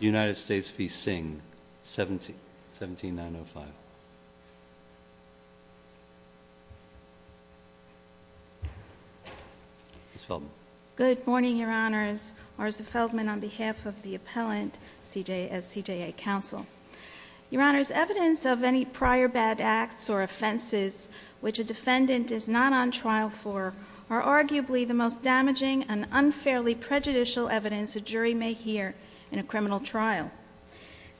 United States v. Singh, 17905. Good morning, Your Honors. Marisa Feldman on behalf of the Appellant at CJA Council. Your Honors, evidence of any prior bad acts or offenses which a defendant is not on trial for are arguably the most damaging and unfairly prejudicial evidence a jury may hear in a criminal trial.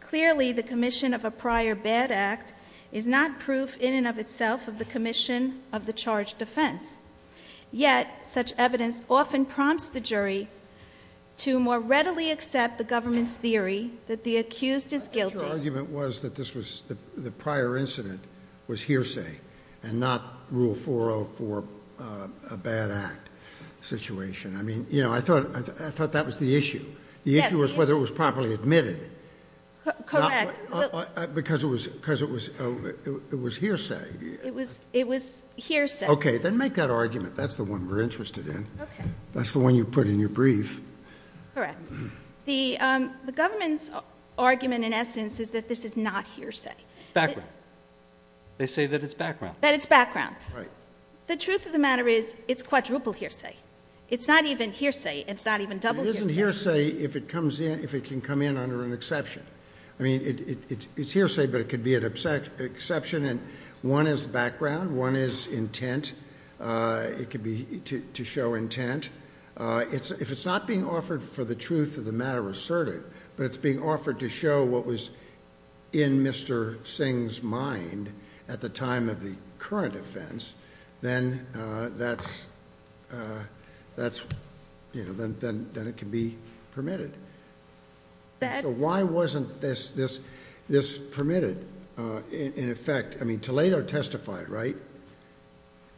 Clearly, the commission of a prior bad act is not proof in and of itself of the commission of the charged offense. Yet, such evidence often prompts the jury to more readily accept the government's theory that the accused is guilty. Your argument was that the prior incident was hearsay and not Rule 404, a bad act situation. I mean, you know, I thought that was the issue. The issue was whether it was properly admitted. Correct. Because it was hearsay. It was hearsay. Okay, then make that argument. That's the one we're interested in. Okay. That's the one you put in your brief. Correct. The government's argument in essence is that this is not hearsay. It's background. They say that it's background. That it's background. Right. The truth of the matter is it's quadruple hearsay. It's not even hearsay. It's not even double hearsay. It isn't hearsay if it can come in under an exception. I mean, it's hearsay, but it could be an exception, and one is background. One is intent. It could be to show intent. If it's not being offered for the truth of the matter asserted, but it's being offered to show what was in Mr. Singh's mind at the time of the current offense, then it can be permitted. So why wasn't this permitted in effect? I mean, Toledo testified, right?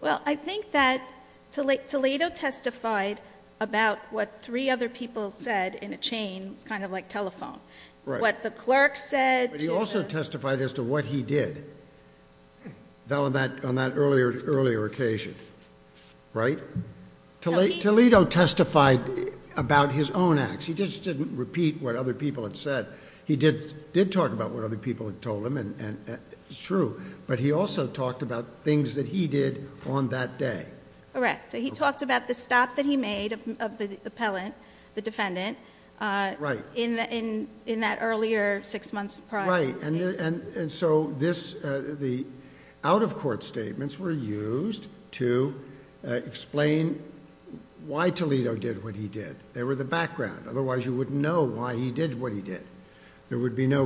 Well, I think that Toledo testified about what three other people said in a chain. It's kind of like telephone. Right. What the clerk said. But he also testified as to what he did on that earlier occasion, right? Toledo testified about his own acts. He just didn't repeat what other people had said. He did talk about what other people had told him, and it's true, but he also talked about things that he did on that day. Correct. So he talked about the stop that he made of the appellant, the defendant, in that earlier six months prior case. And so the out-of-court statements were used to explain why Toledo did what he did. They were the background. Otherwise, you wouldn't know why he did what he did. There would be no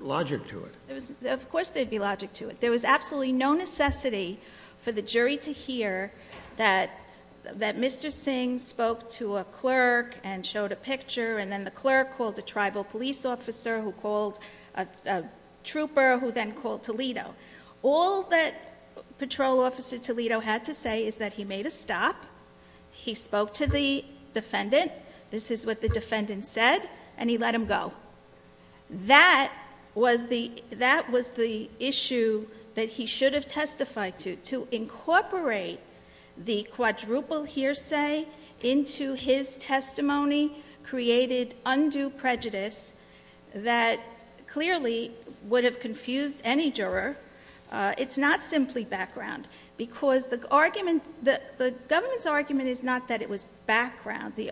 logic to it. Of course there'd be logic to it. There was absolutely no necessity for the jury to hear that Mr. Singh spoke to a clerk and showed a picture, and then the clerk called a tribal police officer who called a trooper who then called Toledo. All that Patrol Officer Toledo had to say is that he made a stop, he spoke to the defendant, this is what the defendant said, and he let him go. That was the issue that he should have testified to. To incorporate the quadruple hearsay into his testimony created undue prejudice that clearly would have confused any juror. It's not simply background, because the government's argument is not that it was background. The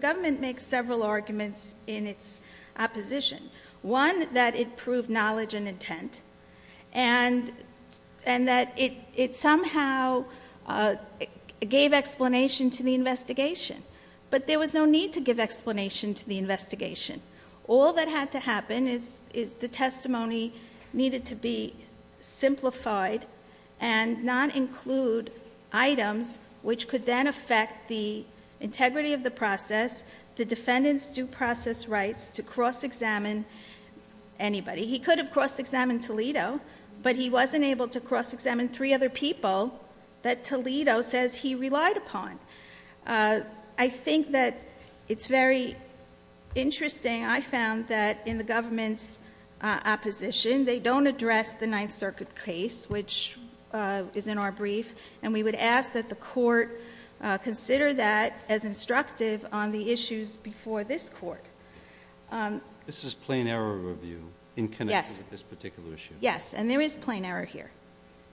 government makes several arguments in its opposition. One, that it proved knowledge and intent, and that it somehow gave explanation to the investigation. But there was no need to give explanation to the investigation. All that had to happen is the testimony needed to be simplified and not include items which could then affect the integrity of the process, the defendant's due process rights to cross-examine anybody. He could have cross-examined Toledo, but he wasn't able to cross-examine three other people that Toledo says he relied upon. I think that it's very interesting, I found, that in the government's opposition, they don't address the Ninth Circuit case, which is in our brief. And we would ask that the Court consider that as instructive on the issues before this Court. This is plain error review in connection with this particular issue. Yes, and there is plain error here.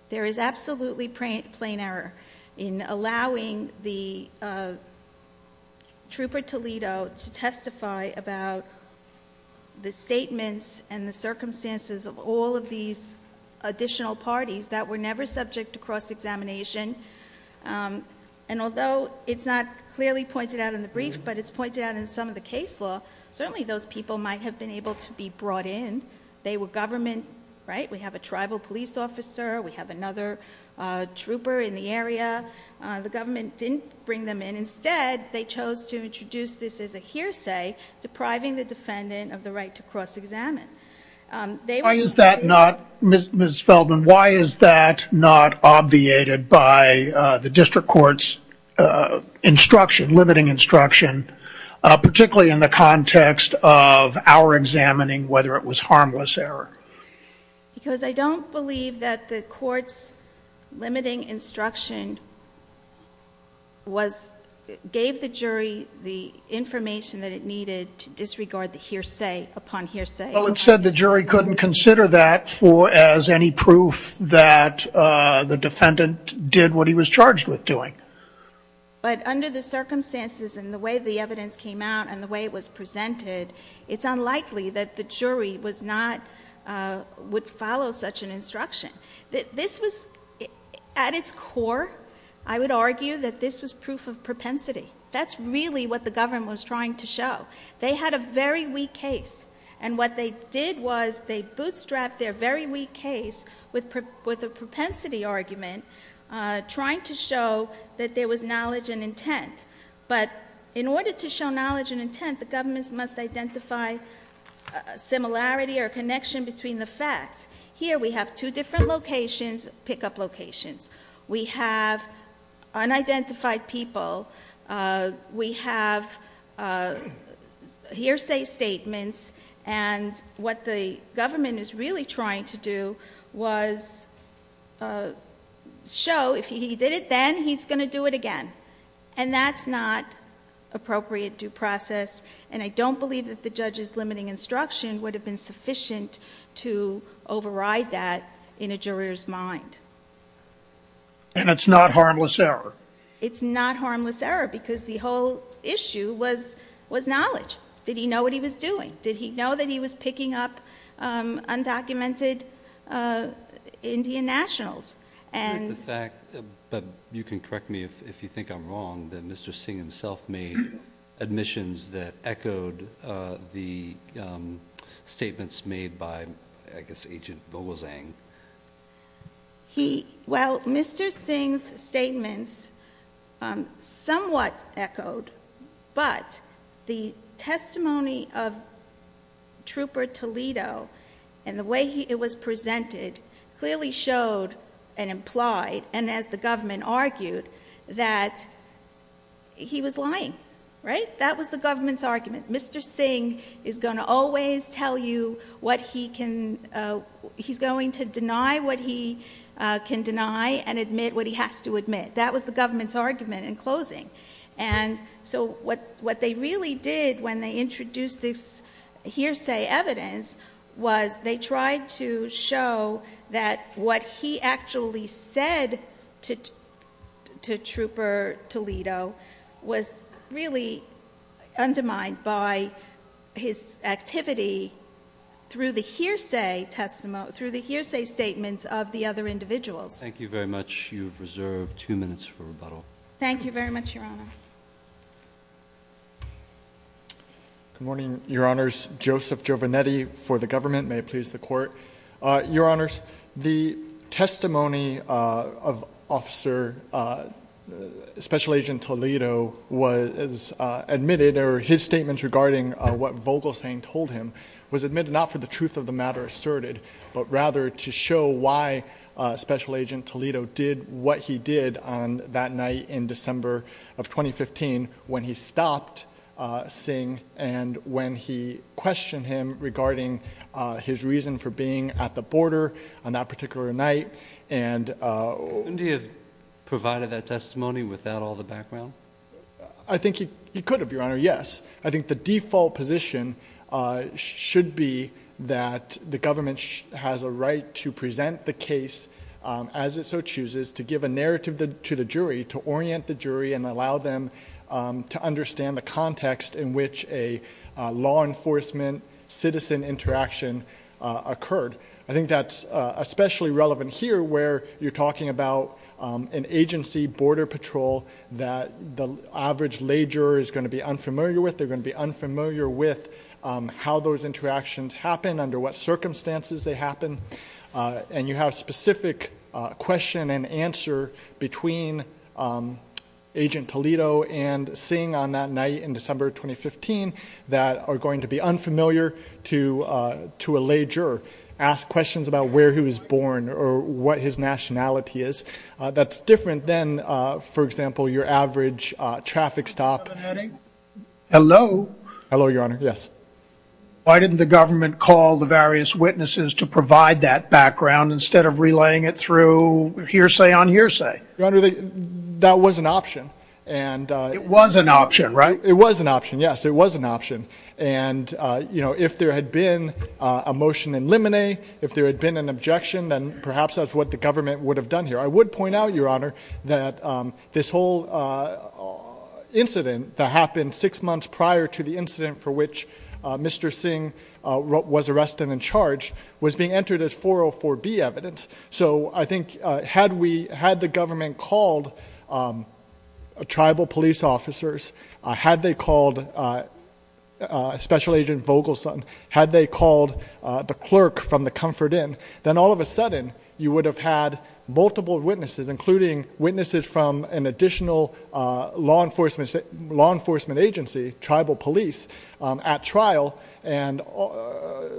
There is absolutely plain error in allowing the trooper Toledo to testify about the statements and the circumstances of all of these additional parties that were never subject to cross-examination. And although it's not clearly pointed out in the brief, but it's pointed out in some of the case law, certainly those people might have been able to be brought in. They were government, right? We have a tribal police officer, we have another trooper in the area. The government didn't bring them in. Instead, they chose to introduce this as a hearsay, depriving the defendant of the right to cross-examine. Why is that not, Ms. Feldman, why is that not obviated by the district court's instruction, limiting instruction, particularly in the context of our examining whether it was harmless error? Because I don't believe that the court's limiting instruction gave the jury the information that it needed to disregard the hearsay upon hearsay. Well, it said the jury couldn't consider that as any proof that the defendant did what he was charged with doing. But under the circumstances and the way the evidence came out and the way it was presented, it's unlikely that the jury would follow such an instruction. This was, at its core, I would argue that this was proof of propensity. That's really what the government was trying to show. They had a very weak case. And what they did was they bootstrapped their very weak case with a propensity argument, trying to show that there was knowledge and intent. But in order to show knowledge and intent, the government must identify a similarity or a connection between the facts. Here we have two different locations, pickup locations. We have unidentified people. We have hearsay statements. And what the government is really trying to do was show if he did it then, he's going to do it again. And that's not appropriate due process. And I don't believe that the judge's limiting instruction would have been sufficient to override that in a juror's mind. And it's not harmless error? It's not harmless error because the whole issue was knowledge. Did he know what he was doing? Did he know that he was picking up undocumented Indian nationals? But you can correct me if you think I'm wrong, that Mr. Singh himself made admissions that echoed the statements made by, I guess, Agent Vogelzang. Well, Mr. Singh's statements somewhat echoed, but the testimony of Trooper Toledo and the way it was presented clearly showed and implied, and as the government argued, that he was lying. That was the government's argument. Mr. Singh is going to always tell you what he can, he's going to deny what he can deny and admit what he has to admit. That was the government's argument in closing. And so what they really did when they introduced this hearsay evidence was they tried to show that what he actually said to Trooper Toledo was really undermined by his activity through the hearsay statements of the other individuals. Thank you very much. You have reserved two minutes for rebuttal. Thank you very much, Your Honor. Good morning, Your Honors. Joseph Giovanetti for the government. May it please the Court. Your Honors, the testimony of Officer Special Agent Toledo was admitted, or his statements regarding what Vogelzang told him was admitted not for the truth of the matter asserted, but rather to show why Special Agent Toledo did what he did on that night in December of 2015 when he stopped Singh and when he questioned him regarding his reason for being at the border on that particular night. Couldn't he have provided that testimony without all the background? I think he could have, Your Honor, yes. I think the default position should be that the government has a right to present the case as it so chooses, to give a narrative to the jury, to orient the jury, and allow them to understand the context in which a law enforcement citizen interaction occurred. I think that's especially relevant here where you're talking about an agency, Border Patrol, that the average lay juror is going to be unfamiliar with. They're going to be unfamiliar with how those interactions happen, under what circumstances they happen. And you have specific question and answer between Agent Toledo and Singh on that night in December of 2015 that are going to be unfamiliar to a lay juror. Ask questions about where he was born or what his nationality is. That's different than, for example, your average traffic stop. Hello? Hello, Your Honor, yes. Why didn't the government call the various witnesses to provide that background instead of relaying it through hearsay on hearsay? Your Honor, that was an option. It was an option, right? It was an option, yes. It was an option. And, you know, if there had been a motion in limine, if there had been an objection, then perhaps that's what the government would have done here. I would point out, Your Honor, that this whole incident that happened six months prior to the incident for which Mr. Singh was arrested and charged was being entered as 404B evidence. So I think had the government called tribal police officers, had they called Special Agent Vogelson, had they called the clerk from the Comfort Inn, then all of a sudden you would have had multiple witnesses, including witnesses from an additional law enforcement agency, tribal police, at trial. And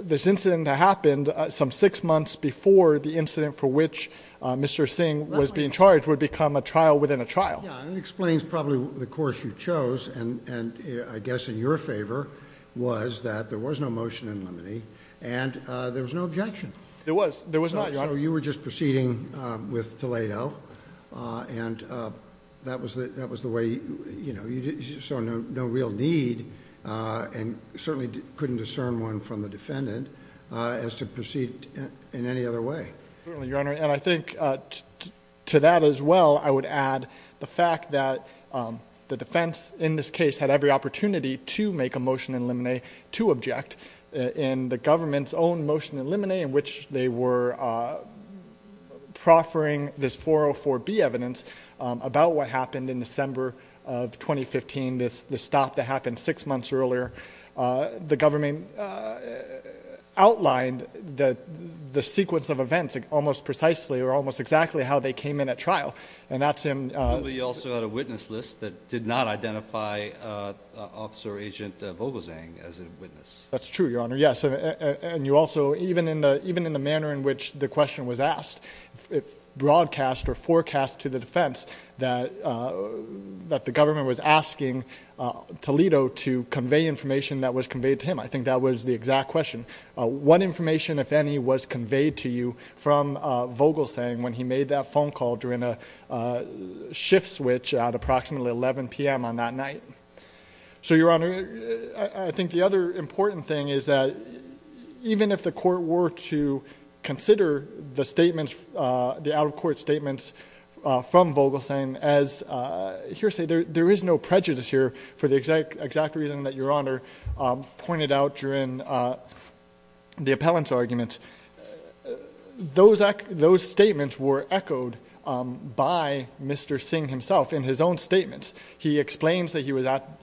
this incident that happened some six months before the incident for which Mr. Singh was being charged would become a trial within a trial. Yeah, and it explains probably the course you chose. And I guess in your favor was that there was no motion in limine and there was no objection. There was. There was not, Your Honor. So you were just proceeding with Toledo and that was the way, you know, you saw no real need and certainly couldn't discern one from the defendant as to proceed in any other way. Certainly, Your Honor. And I think to that as well I would add the fact that the defense in this case had every opportunity to make a motion in limine to object. In the government's own motion in limine in which they were proffering this 404B evidence about what happened in December of 2015, the stop that happened six months earlier, the government outlined the sequence of events almost precisely or almost exactly how they came in at trial. And that's in- We also had a witness list that did not identify Officer Agent Vogelzang as a witness. That's true, Your Honor. Yes. And you also, even in the manner in which the question was asked, broadcast or forecast to the defense that the government was asking Toledo to convey information that was conveyed to him. I think that was the exact question. What information, if any, was conveyed to you from Vogelzang when he made that phone call during a shift switch at approximately 11 p.m. on that night? So, Your Honor, I think the other important thing is that even if the court were to consider the statements, the out-of-court statements from Vogelzang, as hearsay, there is no prejudice here for the exact reason that Your Honor pointed out during the appellant's arguments. Those statements were echoed by Mr. Singh himself in his own statements. He explains that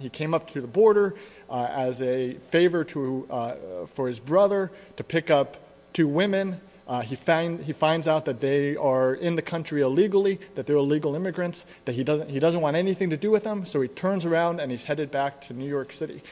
he came up to the border as a favor for his brother to pick up two women. He finds out that they are in the country illegally, that they're illegal immigrants, that he doesn't want anything to do with them. So, he turns around and he's headed back to New York City.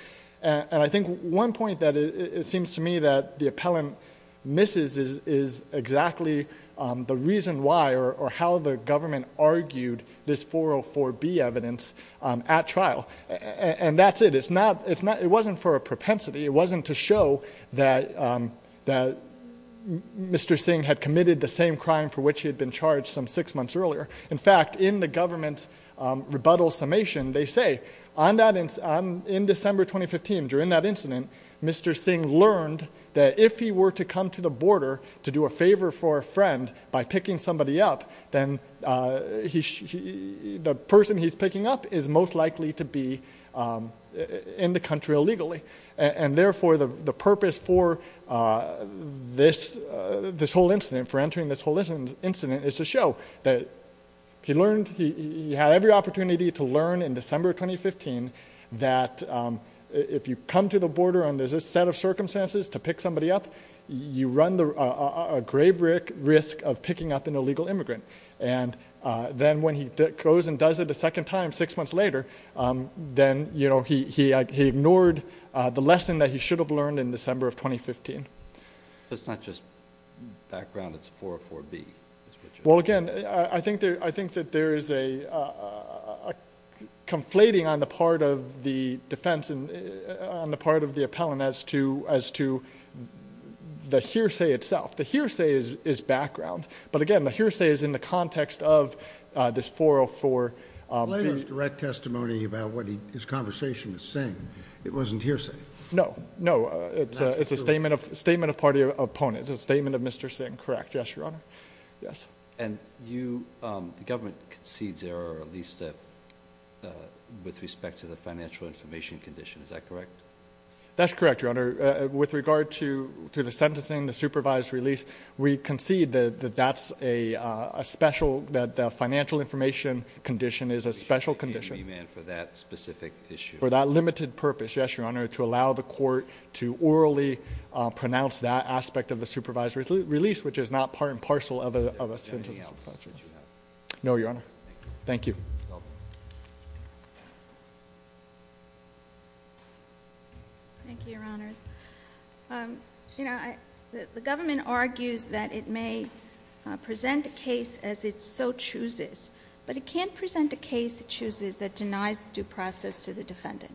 And I think one point that it seems to me that the appellant misses is exactly the reason why or how the government argued this 404B evidence at trial. And that's it. It wasn't for a propensity. It wasn't to show that Mr. Singh had committed the same crime for which he had been charged some six months earlier. In fact, in the government's rebuttal summation, they say, in December 2015, during that incident, Mr. Singh learned that if he were to come to the border to do a favor for a friend by picking somebody up, then the person he's picking up is most likely to be in the country illegally. And therefore, the purpose for this whole incident, for entering this whole incident, is to show that he learned, he had every opportunity to learn in December 2015 that if you come to the border and there's a set of circumstances to pick somebody up, you run a grave risk of picking up an illegal immigrant. And then when he goes and does it a second time six months later, then he ignored the lesson that he should have learned in December of 2015. It's not just background. It's 404B. Well, again, I think that there is a conflating on the part of the defense and on the part of the appellant as to the hearsay itself. The hearsay is background. But, again, the hearsay is in the context of this 404B. I don't have direct testimony about what his conversation is saying. It wasn't hearsay. No. No. It's a statement of party opponent. It's a statement of Mr. Singh. Correct. Yes, Your Honor. Yes. And the government concedes error, at least with respect to the financial information condition. Is that correct? That's correct, Your Honor. With regard to the sentencing, the supervised release, we concede that that's a special, that the financial information condition is a special condition. For that specific issue. For that limited purpose, yes, Your Honor, to allow the court to orally pronounce that aspect of the supervised release, which is not part and parcel of a sentencing. Is there anything else that you have? No, Your Honor. Thank you. You're welcome. Thank you, Your Honors. You know, the government argues that it may present a case as it so chooses, but it can't present a case it chooses that denies due process to the defendant.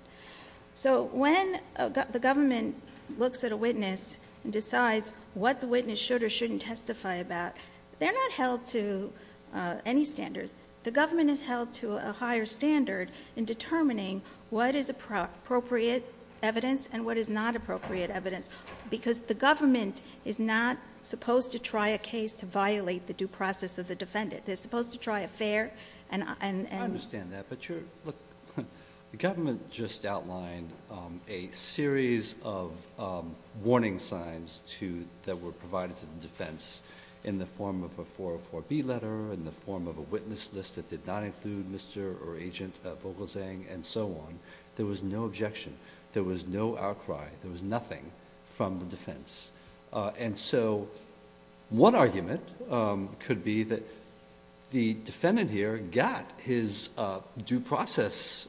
So when the government looks at a witness and decides what the witness should or shouldn't testify about, they're not held to any standards. The government is held to a higher standard in determining what is appropriate evidence and what is not appropriate evidence, because the government is not supposed to try a case to violate the due process of the defendant. They're supposed to try a fair and... I understand that, but you're... The government just outlined a series of warning signs that were provided to the defense in the form of a 404B letter, in the form of a witness list that did not include Mr. or Agent Vogelzang and so on. There was no objection. There was no outcry. There was nothing from the defense. And so, one argument could be that the defendant here got his due process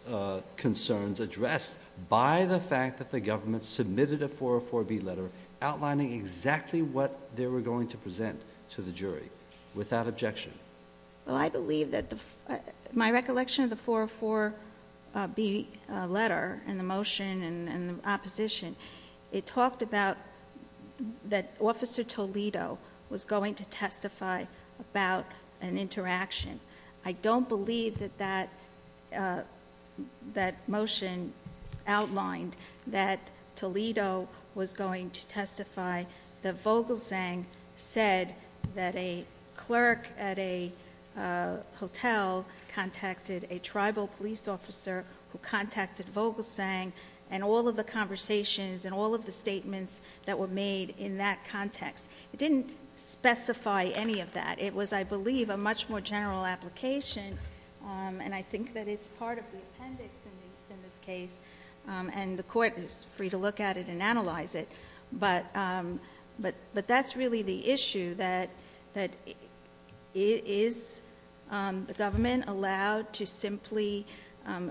concerns addressed by the fact that the government submitted a 404B letter outlining exactly what they were going to present to the jury, without objection. Well, I believe that the... My recollection of the 404B letter and the motion and the opposition, it talked about that Officer Toledo was going to testify about an interaction. I don't believe that that motion outlined that Toledo was going to testify that Vogelzang said that a clerk at a hotel contacted a tribal police officer who contacted Vogelzang, and all of the conversations and all of the statements that were made in that context. It didn't specify any of that. It was, I believe, a much more general application, and I think that it's part of the appendix in this case, and the Court is free to look at it and analyze it. But that's really the issue, that is the government allowed to simply,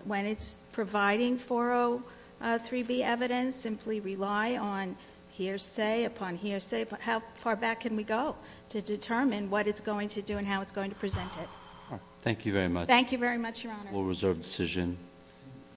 when it's providing 403B evidence, simply rely on hearsay upon hearsay? How far back can we go to determine what it's going to do and how it's going to present it? Thank you very much. Thank you very much, Your Honor. We'll reserve the decision.